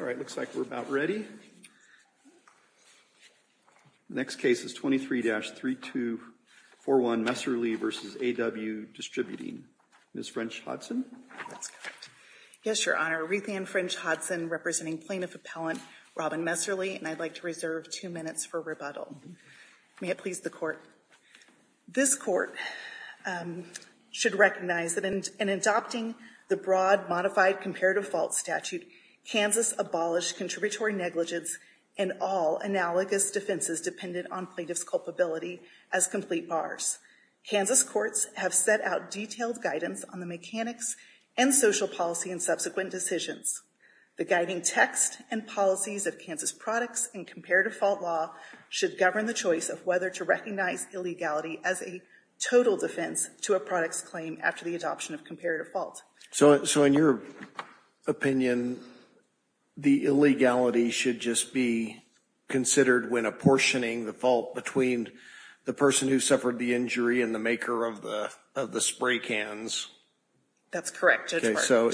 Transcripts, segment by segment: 23-3241 Messerli v. AW Distributing Ms. French-Hodson? Yes, Your Honor. Ruthann French-Hodson, representing Plaintiff Appellant Robin Messerli, and I'd like to reserve two minutes for rebuttal. May it please the Court. This Court should recognize that in adopting the broad modified comparative fault statute, Kansas abolished contributory negligence and all analogous defenses dependent on plaintiff's culpability as complete bars. Kansas courts have set out detailed guidance on the mechanics and social policy in subsequent decisions. The guiding text and policies of Kansas products and comparative fault law should govern the choice of whether to recognize illegality as a total defense to a product's claim after the adoption of comparative fault. So in your opinion, the illegality should just be considered when apportioning the fault between the person who suffered the injury and the maker of the spray cans? That's correct. So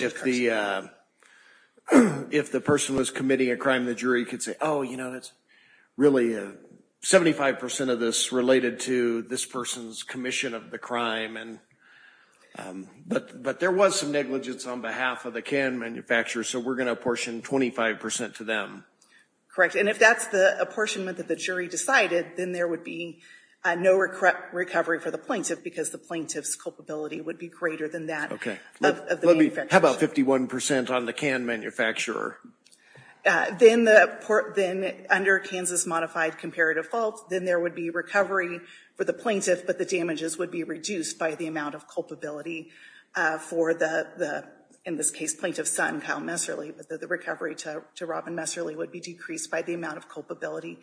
if the person was committing a crime, the jury could say, oh, you know, it's really 75% of this related to this person's commission of the crime. But there was some negligence on behalf of the can manufacturer, so we're going to apportion 25% to them. Correct. And if that's the apportionment that the jury decided, then there would be no recovery for the plaintiff because the plaintiff's culpability would be greater than that of the manufacturer. How about 51% on the can manufacturer? Then under Kansas modified comparative fault, then there would be recovery for the plaintiff, but the damages would be reduced by the amount of culpability for the, in this case, plaintiff's son, Kyle Messerly, but the recovery to Robin Messerly would be decreased by the amount of culpability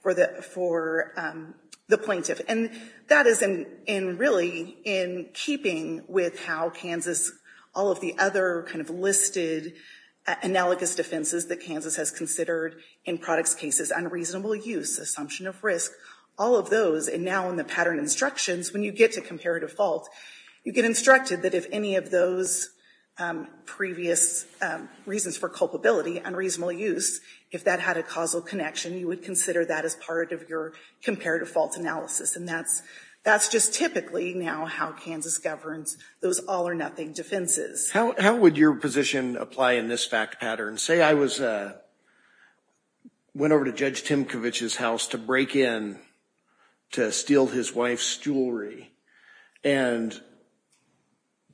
for the plaintiff. And that is in really in keeping with how Kansas, all of the other kind of listed analogous defenses that Kansas has considered in products cases, unreasonable use, assumption of risk, all of those, and now in the pattern instructions, when you get to comparative fault, you get instructed that if any of those previous reasons for culpability, unreasonable use, if that had a causal connection, you would consider that as part of your comparative fault analysis. And that's just typically now how Kansas governs those all or nothing defenses. How would your position apply in this fact pattern? Say I went over to Judge Timkovich's house to break in to steal his wife's jewelry, and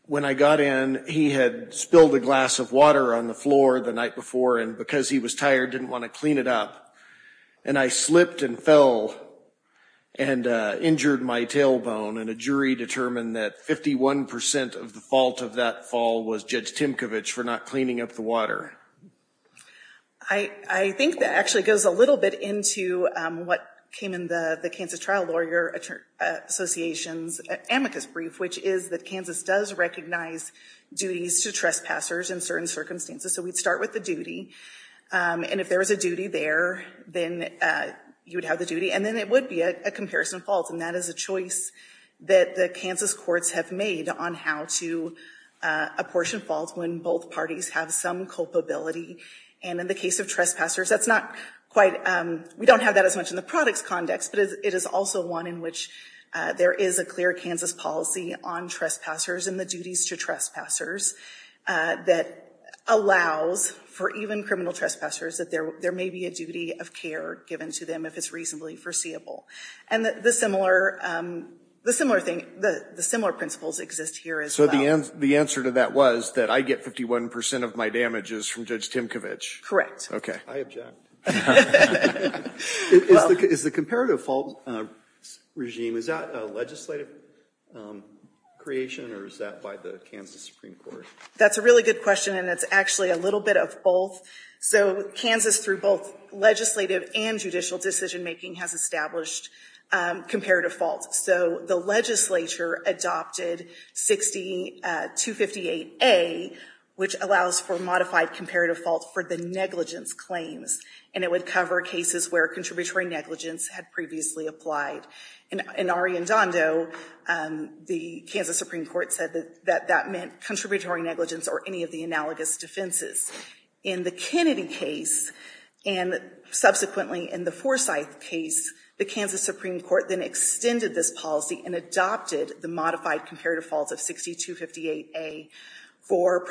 when I got in, he had spilled a glass of water on the floor the night before, and because he was tired, didn't want to clean it up, and I slipped and fell and injured my tailbone, and a jury determined that 51% of the fault of that fall was Judge Timkovich for not cleaning up the water. I think that actually goes a little bit into what came in the Kansas Trial Lawyer Association's amicus brief, which is that Kansas does recognize duties to trespassers in certain circumstances. So we'd start with the duty, and if there was a duty there, then you would have the duty, and then it would be a comparison fault, and that is a choice that the Kansas courts have made on how to apportion faults when both parties have some culpability. And in the case of trespassers, we don't have that as much in the products context, but it is also one in which there is a clear Kansas policy on trespassers and the duties to trespassers that allows for even criminal trespassers that there may be a duty of care given to them if it's reasonably foreseeable. And the similar thing, the similar principles exist here as well. So the answer to that was that I get 51% of my damages from Judge Timkovich? Okay. I object. Is the comparative fault regime, is that a legislative creation, or is that by the Kansas Supreme Court? That's a really good question, and it's actually a little bit of both. So Kansas, through both legislative and judicial decision-making, has established comparative faults. So the legislature adopted 60258A, which allows for modified comparative faults for the negligence claims, and it would cover cases where contributory negligence had previously applied. In Ari Andando, the Kansas Supreme Court said that that meant contributory negligence or any of the analogous defenses. In the Kennedy case, and subsequently in the Forsyth case, the Kansas Supreme Court then extended this policy and adopted the modified comparative faults of 6258A for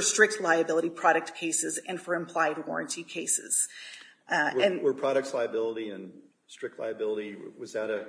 strict liability product cases and for implied warranty cases. Were products liability and strict liability, was that a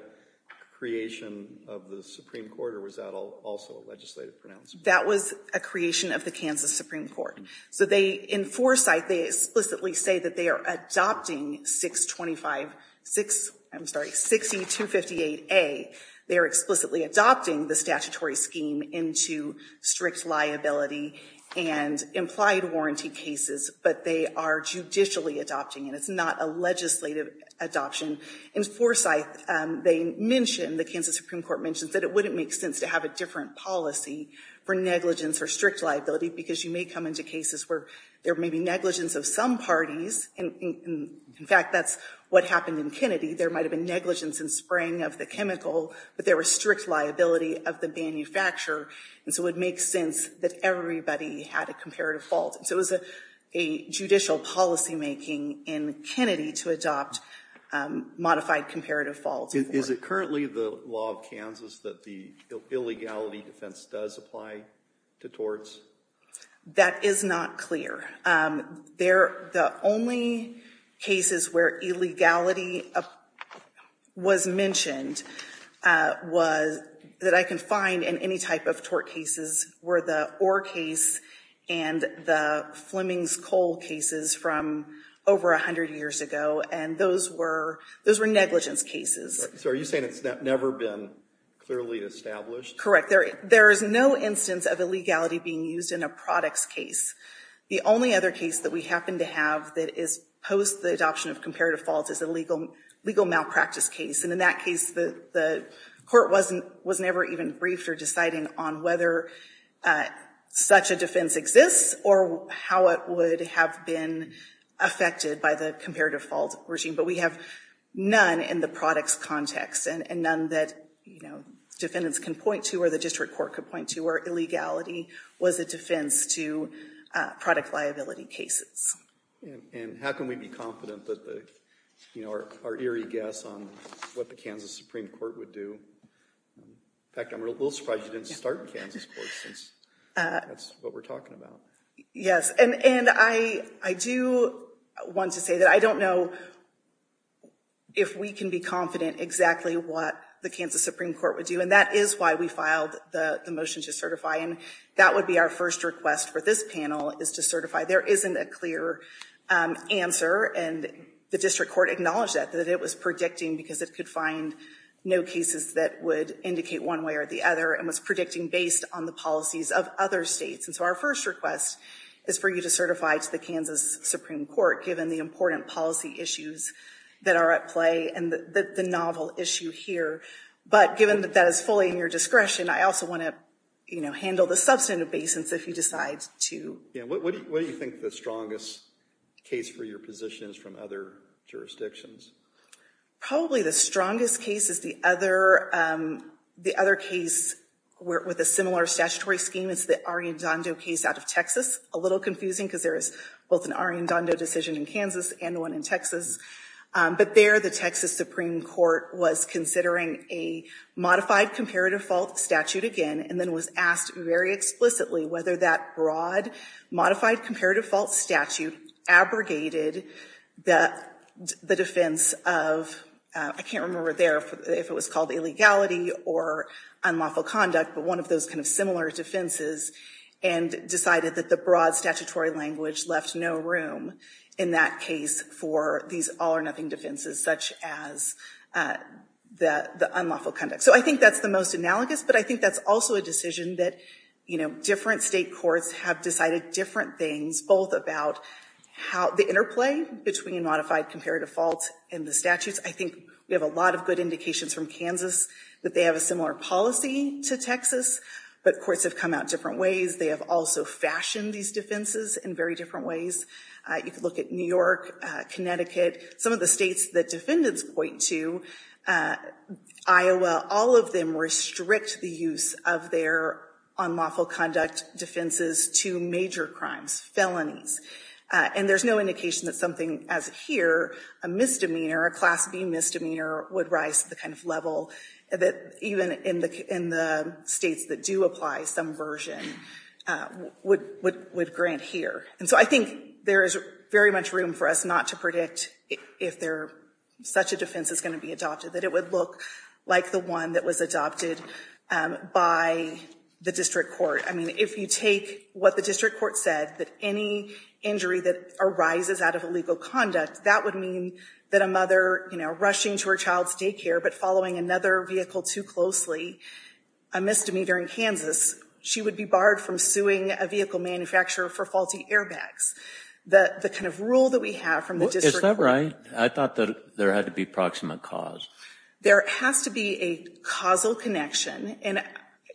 creation of the Supreme Court, or was that also a legislative pronouncement? That was a creation of the Kansas Supreme Court. So in Forsyth, they explicitly say that they are adopting 60258A. They are explicitly adopting the statutory scheme into strict liability and implied warranty cases, but they are judicially adopting it. It's not a legislative adoption. In Forsyth, they mention, the Kansas Supreme Court mentions, that it wouldn't make sense to have a different policy for negligence or strict liability because you may come into cases where there may be negligence of some parties. In fact, that's what happened in Kennedy. There might have been negligence in spraying of the chemical, but there was strict liability of the manufacturer, and so it would make sense that everybody had a comparative fault. So it was a judicial policymaking in Kennedy to adopt modified comparative faults. Is it currently the law of Kansas that the illegality defense does apply to torts? That is not clear. The only cases where illegality was mentioned that I can find in any type of tort cases were the Orr case and the Fleming's Coal cases from over 100 years ago, and those were negligence cases. So are you saying it's never been clearly established? Correct. There is no instance of illegality being used in a products case. The only other case that we happen to have that is post the adoption of comparative faults is a legal malpractice case, and in that case, the court was never even briefed or deciding on whether such a defense exists or how it would have been affected by the comparative fault regime, but we have none in the products context and none that defendants can point to or the district court could point to where illegality was a defense to product liability cases. And how can we be confident that our eerie guess on what the Kansas Supreme Court would do? In fact, I'm a little surprised you didn't start Kansas Court since that's what we're talking about. Yes, and I do want to say that I don't know if we can be confident exactly what the Kansas Supreme Court would do, and that is why we filed the motion to certify, and that would be our first request for this panel is to certify. There isn't a clear answer, and the district court acknowledged that, that it was predicting because it could find no cases that would indicate one way or the other and was predicting based on the policies of other states, and so our first request is for you to certify to the Kansas Supreme Court given the important policy issues that are at play and the novel issue here, but given that that is fully in your discretion, I also want to, you know, handle the substantive basins if you decide to. Yeah, what do you think the strongest case for your position is from other jurisdictions? Probably the strongest case is the other case with a similar statutory scheme. It's the Arendando case out of Texas. A little confusing because there is both an Arendando decision in Kansas and one in Texas, but there the Texas Supreme Court was considering a modified comparative fault statute again and then was asked very explicitly whether that broad modified comparative fault statute abrogated the defense of, I can't remember there if it was called illegality or unlawful conduct, but one of those kind of similar defenses and decided that the broad statutory language left no room in that case for these all-or-nothing defenses such as the unlawful conduct. So I think that's the most analogous, but I think that's also a decision that, you know, different state courts have decided different things both about the interplay between a modified comparative fault and the statutes. I think we have a lot of good indications from Kansas that they have a similar policy to Texas, but courts have come out different ways. They have also fashioned these defenses in very different ways. You could look at New York, Connecticut, some of the states that defendants point to, Iowa, all of them restrict the use of their unlawful conduct defenses to major crimes, felonies, and there's no indication that something as here, a misdemeanor, a Class B misdemeanor would rise to the kind of level that even in the states that do apply some version would grant here. And so I think there is very much room for us not to predict if such a defense is going to be adopted, that it would look like the one that was adopted by the district court. I mean, if you take what the district court said, that any injury that arises out of illegal conduct, that would mean that a mother, you know, rushing to her child's daycare but following another vehicle too closely, a misdemeanor in Kansas, she would be barred from suing a vehicle manufacturer for faulty airbags. The kind of rule that we have from the district court. Is that right? I thought that there had to be proximate cause. There has to be a causal connection. And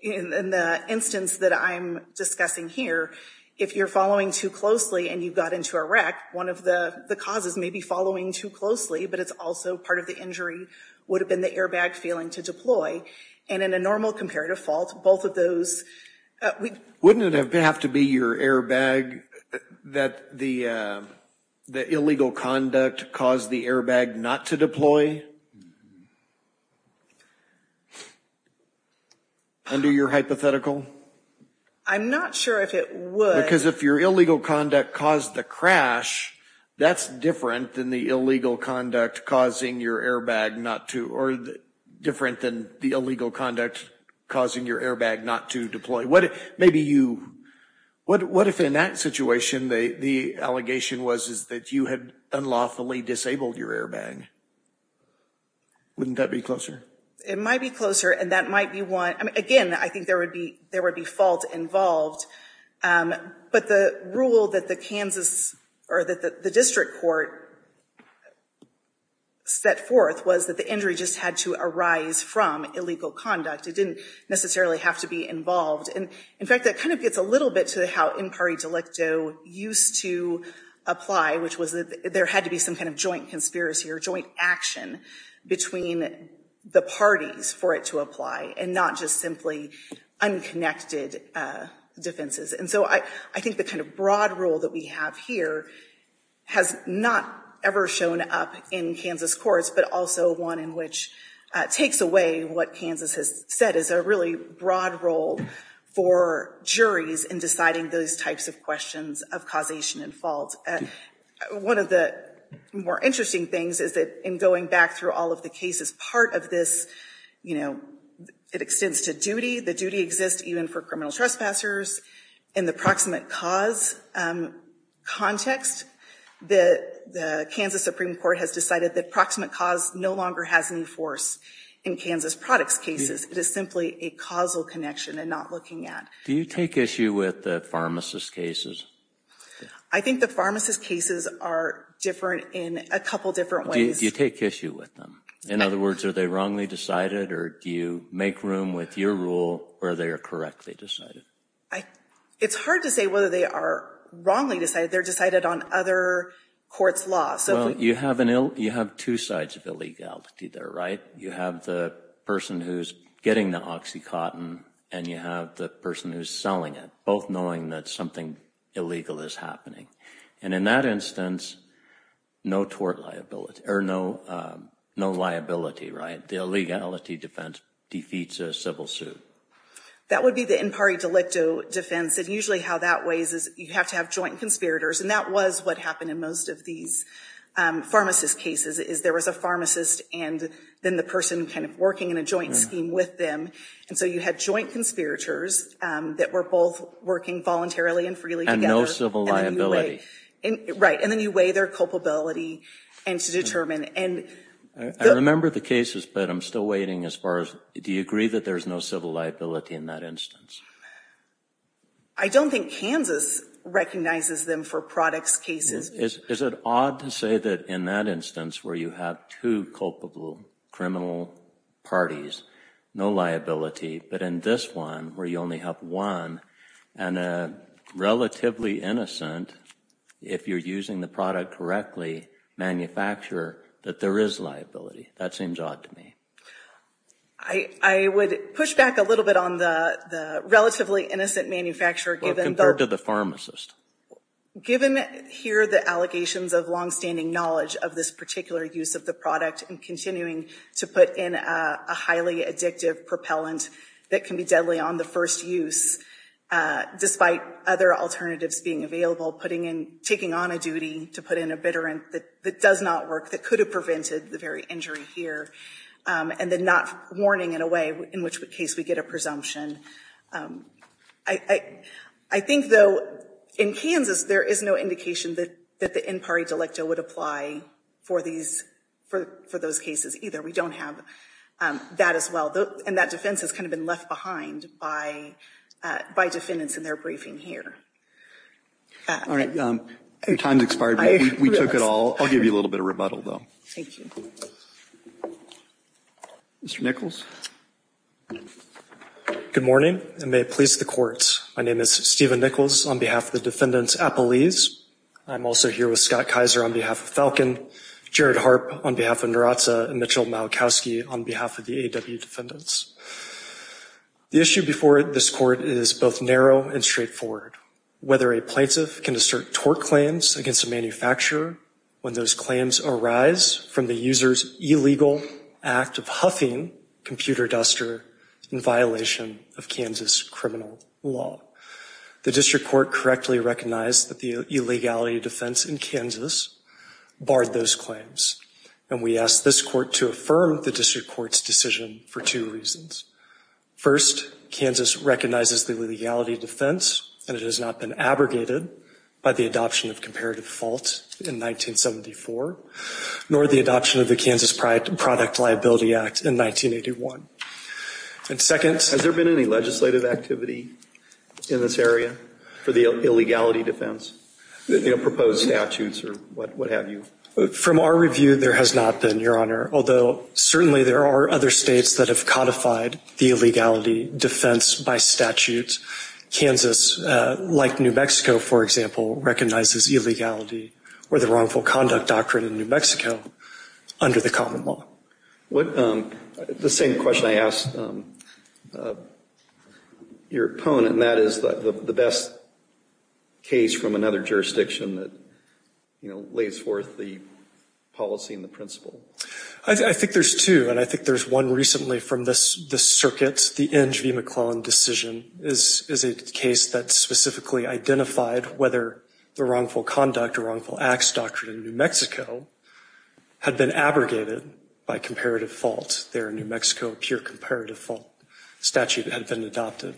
in the instance that I'm discussing here, if you're following too closely and you got into a wreck, one of the causes may be following too closely, but it's also part of the injury would have been the airbag failing to deploy. And in a normal comparative fault, both of those. Wouldn't it have to be your airbag that the illegal conduct caused the airbag not to deploy? Under your hypothetical? I'm not sure if it would. Because if your illegal conduct caused the crash, that's different than the illegal conduct causing your airbag not to, or different than the illegal conduct causing your airbag not to deploy. What if maybe you, what if in that situation, the allegation was that you had unlawfully disabled your airbag? Wouldn't that be closer? It might be closer and that might be one. Again, I think there would be, there would be fault involved. But the rule that the Kansas or that the district court set forth was that the injury just had to arise from illegal conduct. It didn't necessarily have to be involved. And in fact, that kind of gets a little bit to how in party delicto used to apply, which was that there had to be some kind of joint conspiracy or joint action between the parties for it to apply and not just simply unconnected defenses. And so I think the kind of broad rule that we have here has not ever shown up in Kansas courts, but also one in which takes away what Kansas has said is a really broad role for juries in deciding those types of questions of causation and fault. One of the more interesting things is that in going back through all of the cases, part of this, you know, it extends to duty. The duty exists even for criminal trespassers. In the proximate cause context, the Kansas Supreme Court has decided that proximate cause no longer has any force in Kansas products cases. It is simply a causal connection and not looking at. Do you take issue with the pharmacist cases? I think the pharmacist cases are different in a couple of different ways. Do you take issue with them? In other words, are they wrongly decided or do you make room with your rule where they are correctly decided? It's hard to say whether they are wrongly decided. They're decided on other courts' laws. Well, you have two sides of illegality there, right? You have the person who's getting the OxyContin and you have the person who's selling it, both knowing that something illegal is happening. And in that instance, no liability, right? The illegality defense defeats a civil suit. That would be the impari delicto defense. And usually how that weighs is you have to have joint conspirators. And that was what happened in most of these pharmacist cases is there was a pharmacist and then the person kind of working in a joint scheme with them. And so you had joint conspirators that were both working voluntarily and freely together. And no civil liability. Right. And then you weigh their culpability and to determine. I remember the cases, but I'm still waiting as far as do you agree that there's no civil liability in that instance? I don't think Kansas recognizes them for products cases. Is it odd to say that in that instance where you have two culpable criminal parties, no liability, but in this one where you only have one and a relatively innocent, if you're using the product correctly, manufacturer, that there is liability? That seems odd to me. I would push back a little bit on the relatively innocent manufacturer. Well, compared to the pharmacist. Given here the allegations of longstanding knowledge of this particular use of the product and continuing to put in a highly addictive propellant that can be deadly on the first use, despite other alternatives being available, taking on a duty to put in a bitter end that does not work, that could have prevented the very injury here, and then not warning in a way in which case we get a presumption. I think, though, in Kansas there is no indication that the in parte delicto would apply for those cases either. We don't have that as well. And that defense has kind of been left behind by defendants in their briefing here. All right. Your time has expired. We took it all. I'll give you a little bit of rebuttal, though. Thank you. Mr. Nichols? Good morning, and may it please the courts. My name is Stephen Nichols on behalf of the defendants Appelese. I'm also here with Scott Kaiser on behalf of Falcon, Jared Harp on behalf of Narazza, and Mitchell Malachowski on behalf of the A.W. defendants. The issue before this court is both narrow and straightforward. Whether a plaintiff can assert tort claims against a manufacturer when those claims arise from the user's illegal act of huffing computer duster in violation of Kansas criminal law. The district court correctly recognized that the illegality defense in Kansas barred those claims, and we asked this court to affirm the district court's decision for two reasons. First, Kansas recognizes the illegality defense, and it has not been abrogated by the adoption of comparative fault in 1974, nor the adoption of the Kansas Product Liability Act in 1981. And second. Has there been any legislative activity in this area for the illegality defense, proposed statutes or what have you? From our review, there has not been, Your Honor, although certainly there are other states that have codified the illegality defense by statute. Kansas, like New Mexico, for example, recognizes illegality or the wrongful conduct doctrine in New Mexico under the common law. The same question I asked your opponent, and that is the best case from another jurisdiction that lays forth the policy and the principle. I think there's two, and I think there's one recently from this circuit. The Inge v. McClellan decision is a case that specifically identified whether the wrongful conduct or wrongful acts doctrine in New Mexico had been abrogated by comparative fault there in New Mexico, a pure comparative fault statute had been adopted.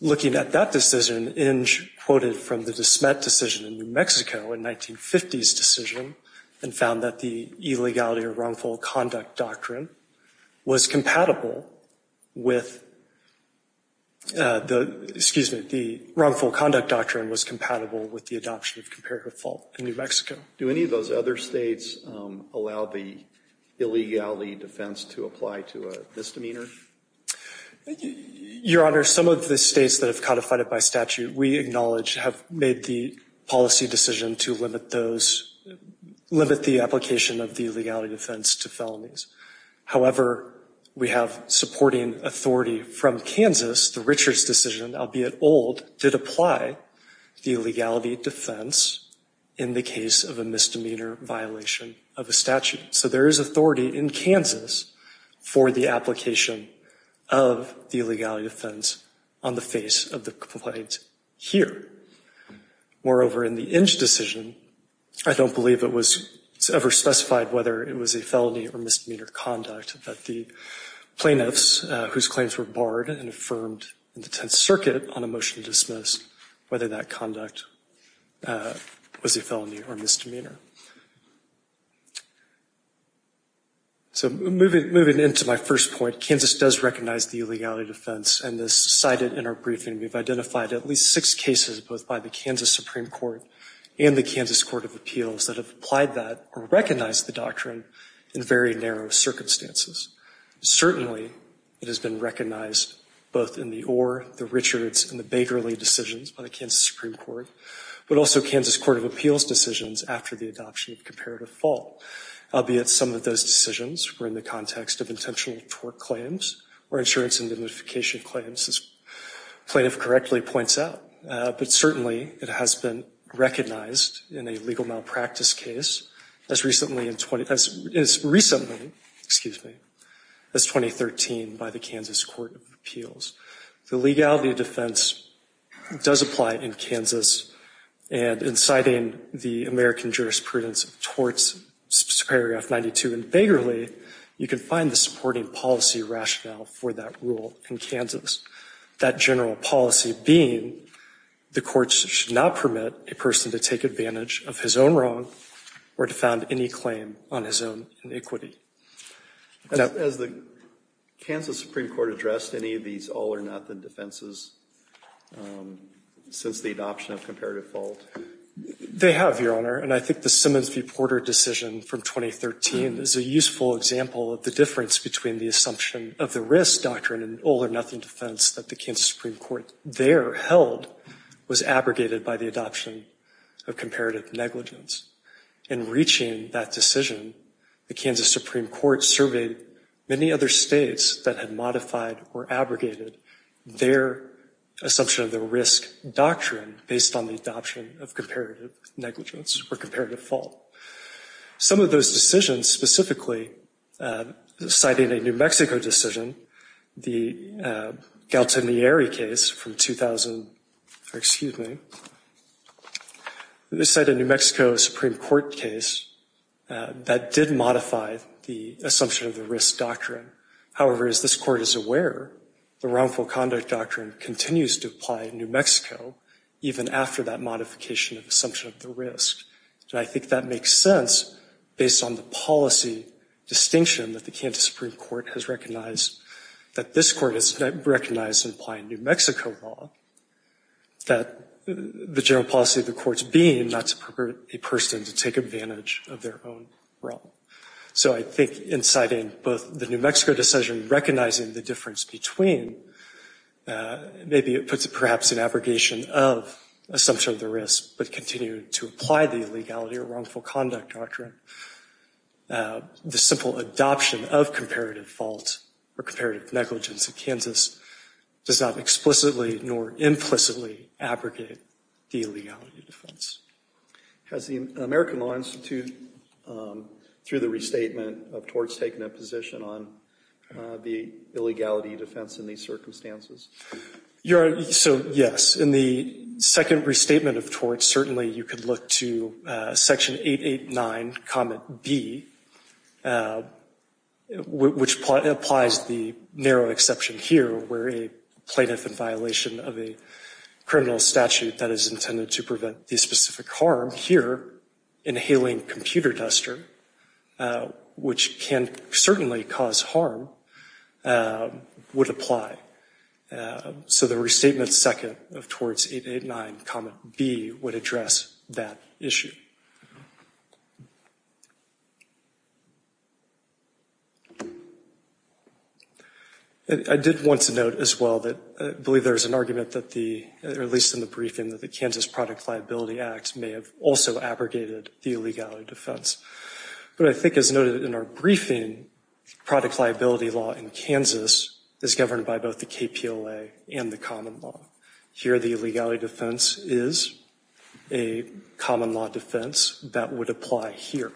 Looking at that decision, Inge quoted from the De Smet decision in New Mexico, a 1950s decision, and found that the illegality or wrongful conduct doctrine was compatible with the adoption of comparative fault in New Mexico. Do any of those other states allow the illegality defense to apply to a misdemeanor? Your Honor, some of the states that have codified it by statute, we acknowledge have made the policy decision to limit the application of the illegality defense to felonies. However, we have supporting authority from Kansas. The Richards decision, albeit old, did apply the illegality defense in the case of a misdemeanor violation of a statute. So there is authority in Kansas for the application of the illegality defense on the face of the complaint here. Moreover, in the Inge decision, I don't believe it was ever specified whether it was a felony or misdemeanor conduct that the plaintiffs, whose claims were barred and affirmed in the Tenth Circuit on a motion to dismiss, whether that conduct was a felony or misdemeanor. So moving into my first point, Kansas does recognize the illegality defense, and as cited in our briefing, we've identified at least six cases, both by the Kansas Supreme Court and the Kansas Court of Appeals, that have applied that or recognized the doctrine in very narrow circumstances. Certainly, it has been recognized both in the or, the Richards, and the Bakerley decisions by the Kansas Supreme Court, but also Kansas Court of Appeals decisions after the adoption of comparative fault. Albeit some of those decisions were in the context of intentional tort claims or insurance indemnification claims, as plaintiff correctly points out, but certainly it has been recognized in a legal malpractice case as recently as 2013 by the Kansas Court of Appeals. The legality defense does apply in Kansas, and in citing the American jurisprudence of torts, Superior Act 92 and Bakerley, you can find the supporting policy rationale for that rule in Kansas. That general policy being, the courts should not permit a person to take advantage of his own wrong or to found any claim on his own iniquity. Has the Kansas Supreme Court addressed any of these all-or-nothing defenses since the adoption of comparative fault? They have, Your Honor, and I think the Simmons v. Porter decision from 2013 is a useful example of the difference between the assumption of the risk doctrine and all-or-nothing defense that the Kansas Supreme Court there held was abrogated by the adoption of comparative negligence. In reaching that decision, the Kansas Supreme Court surveyed many other states that had modified or abrogated their assumption of the risk doctrine based on the adoption of comparative negligence or comparative fault. Some of those decisions, specifically citing a New Mexico decision, the Galtinieri case from 2000, or excuse me, citing a New Mexico Supreme Court case, that did modify the assumption of the risk doctrine. However, as this Court is aware, the wrongful conduct doctrine continues to apply in New Mexico even after that modification of the assumption of the risk. And I think that makes sense based on the policy distinction that the Kansas Supreme Court has recognized, that this Court has recognized in applying New Mexico law, that the general policy of the courts being not to permit a person to take advantage of their own wrong. So I think in citing both the New Mexico decision recognizing the difference between, maybe it puts it perhaps in abrogation of assumption of the risk, but continue to apply the illegality or wrongful conduct doctrine, the simple adoption of comparative fault or comparative negligence in Kansas does not explicitly nor implicitly abrogate the illegality defense. Has the American Law Institute, through the restatement of torts, taken a position on the illegality defense in these circumstances? So, yes. In the second restatement of torts, certainly you could look to section 889, comment B, which applies the narrow exception here where a plaintiff in violation of a criminal statute that is intended to prevent the specific harm here, inhaling computer duster, which can certainly cause harm, would apply. So the restatement second of torts 889, comment B, would address that issue. I did want to note as well that I believe there is an argument that the, or at least in the briefing, that the Kansas Product Liability Act may have also abrogated the illegality defense. But I think as noted in our briefing, product liability law in Kansas is governed by both the KPLA and the common law. Here the illegality defense is a common law defense, that would apply here.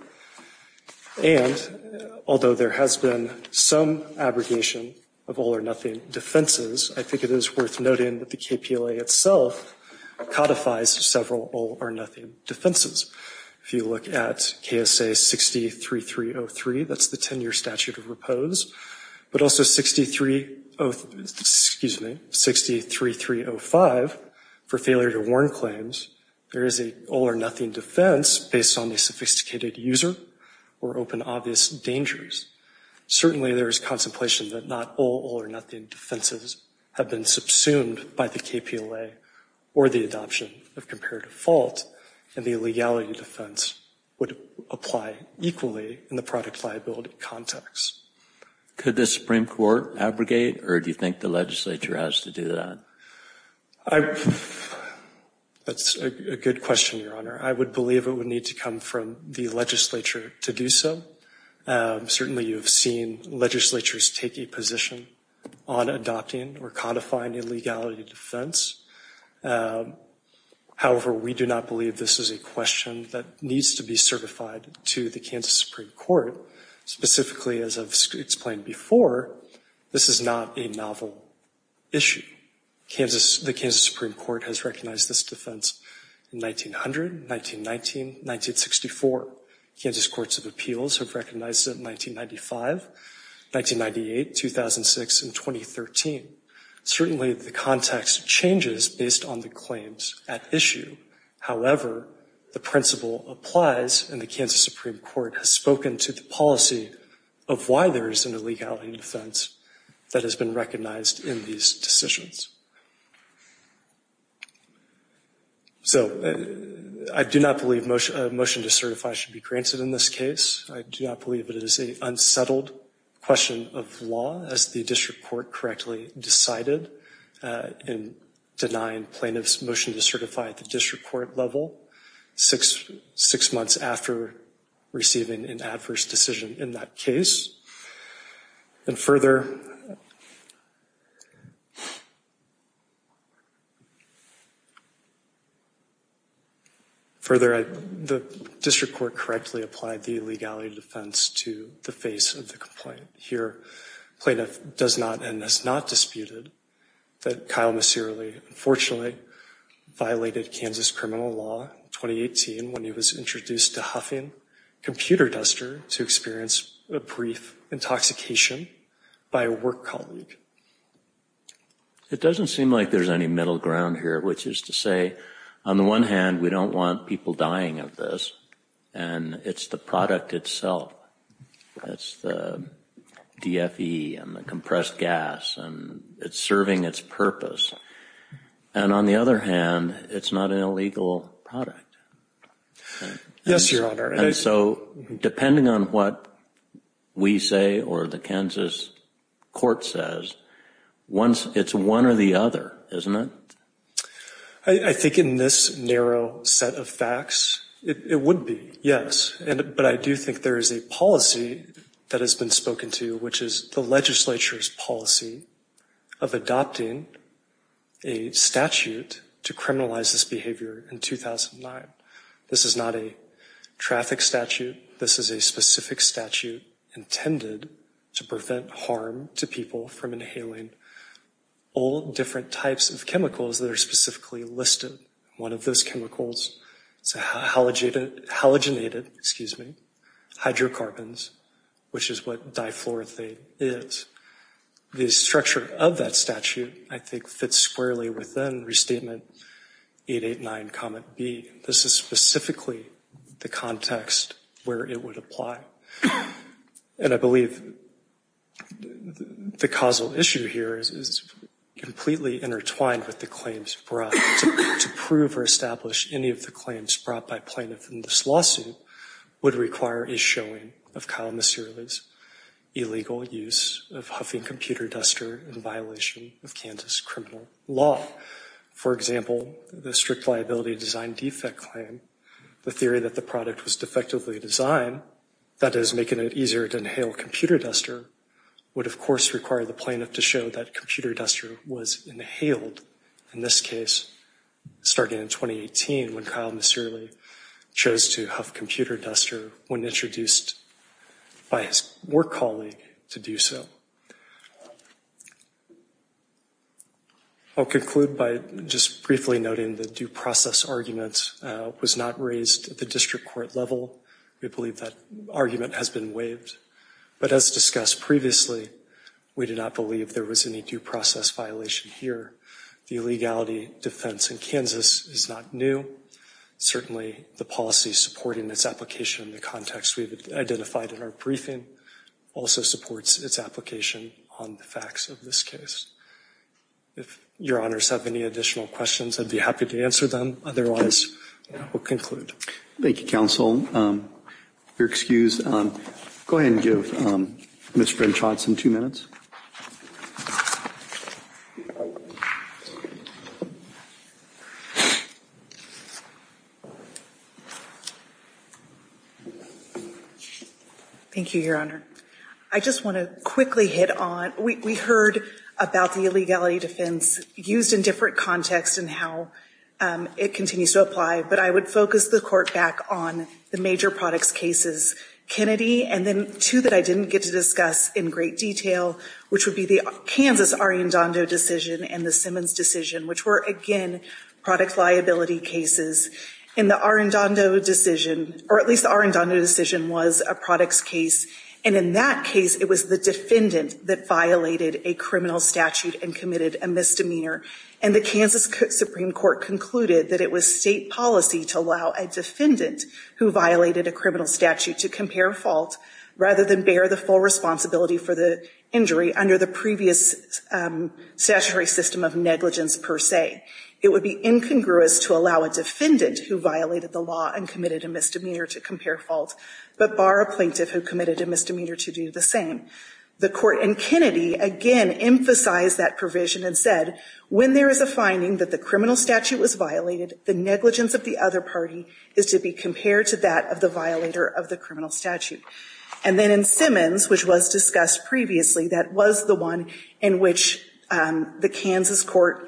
And although there has been some abrogation of all or nothing defenses, I think it is worth noting that the KPLA itself codifies several all or nothing defenses. If you look at KSA 63303, that's the 10-year statute of repose, but also 63305, for failure to warn claims, there is a all or nothing defense based on the sophisticated user or open obvious dangers. Certainly there is contemplation that not all or nothing defenses have been subsumed by the KPLA or the adoption of comparative fault, and the illegality defense would apply equally in the product liability context. Could the Supreme Court abrogate, or do you think the legislature has to do that? That's a good question, Your Honor. I would believe it would need to come from the legislature to do so. Certainly you have seen legislatures take a position on adopting or codifying illegality defense. However, we do not believe this is a question that needs to be certified to the Kansas Supreme Court. Specifically, as I've explained before, this is not a novel issue. The Kansas Supreme Court has recognized this defense in 1900, 1919, 1964. Kansas Courts of Appeals have recognized it in 1995, 1998, 2006, and 2013. Certainly the context changes based on the claims at issue. However, the principle applies, and the Kansas Supreme Court has spoken to the policy of why there is an illegality defense that has been recognized in these decisions. So I do not believe a motion to certify should be granted in this case. I do not believe it is an unsettled question of law, as the district court correctly decided in denying plaintiffs' motion to certify at the district court level six months after receiving an adverse decision in that case. And further, the district court correctly applied the illegality defense to the face of the complaint. Here, plaintiff does not and has not disputed that Kyle Miserly unfortunately violated Kansas criminal law in 2018 when he was introduced to huffing computer duster to experience a brief intoxication by a work colleague. It doesn't seem like there's any middle ground here, which is to say, on the one hand, we don't want people dying of this, and it's the product itself. It's the DFE and the compressed gas, and it's serving its purpose. And on the other hand, it's not an illegal product. Yes, Your Honor. And so depending on what we say or the Kansas court says, it's one or the other, isn't it? I think in this narrow set of facts, it would be, yes. But I do think there is a policy that has been spoken to, which is the legislature's policy of adopting a statute to criminalize this behavior in 2009. This is not a traffic statute. This is a specific statute intended to prevent harm to people from inhaling all different types of chemicals that are specifically listed. One of those chemicals is halogenated hydrocarbons, which is what difluorothane is. The structure of that statute, I think, fits squarely within Restatement 889, Comment B. This is specifically the context where it would apply. And I believe the causal issue here is completely intertwined with the claims brought. To prove or establish any of the claims brought by plaintiffs in this lawsuit would require a showing of Kyle Miserly's illegal use of Huffington Computer Duster in violation of Kansas criminal law. For example, the strict liability design defect claim, the theory that the product was defectively designed, that is, making it easier to inhale computer duster, would, of course, require the plaintiff to show that computer duster was inhaled, in this case, starting in 2018 when Kyle Miserly chose to Huff Computer Duster when introduced by his work colleague to do so. I'll conclude by just briefly noting the due process argument was not raised at the district court level. We believe that argument has been waived. But as discussed previously, we do not believe there was any due process violation here. The illegality defense in Kansas is not new. Certainly, the policy supporting its application in the context we've identified in our briefing also supports its application on the facts of this case. If your honors have any additional questions, I'd be happy to answer them. Otherwise, we'll conclude. Thank you, counsel. If you're excused, go ahead and give Ms. Brinchot some two minutes. Thank you, your honor. I just want to quickly hit on, we heard about the illegality defense used in different contexts and how it continues to apply. But I would focus the court back on the major products cases, Kennedy, and then two that I didn't get to discuss in great detail. Which would be the Kansas Arendando decision and the Simmons decision, which were, again, product liability cases. And the Arendando decision, or at least the Arendando decision was a products case. And in that case, it was the defendant that violated a criminal statute and committed a misdemeanor. And the Kansas Supreme Court concluded that it was state policy to allow a defendant who violated a criminal statute to compare fault rather than bear the full responsibility for the injury under the previous statutory system of negligence per se. It would be incongruous to allow a defendant who violated the law and committed a misdemeanor to compare fault, but bar a plaintiff who committed a misdemeanor to do the same. The court in Kennedy, again, emphasized that provision and said, when there is a finding that the criminal statute was violated, the negligence of the other party is to be compared to that of the violator of the criminal statute. And then in Simmons, which was discussed previously, that was the one in which the Kansas court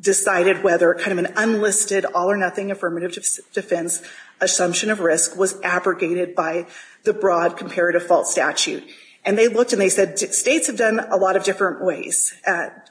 decided whether kind of an unlisted, all or nothing affirmative defense assumption of risk was abrogated by the broad comparative fault statute. And they looked and they said, states have done a lot of different ways,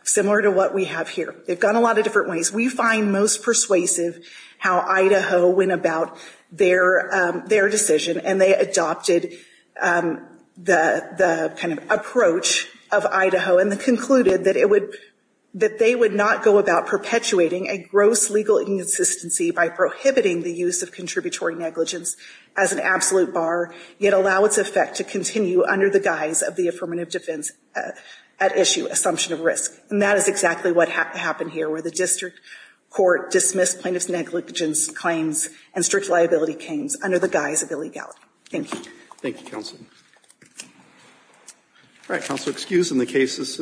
similar to what we have here. They've gone a lot of different ways. We find most persuasive how Idaho went about their decision and they adopted the kind of approach of Idaho and concluded that they would not go about perpetuating a gross legal inconsistency by prohibiting the use of contributory negligence as an absolute bar, yet allow its effect to continue under the guise of the affirmative defense at issue assumption of risk. And that is exactly what happened here, where the district court dismissed plaintiff's negligence claims and strict liability claims under the guise of illegality. Thank you. Thank you, counsel. All right, counsel, excused and the case is submitted.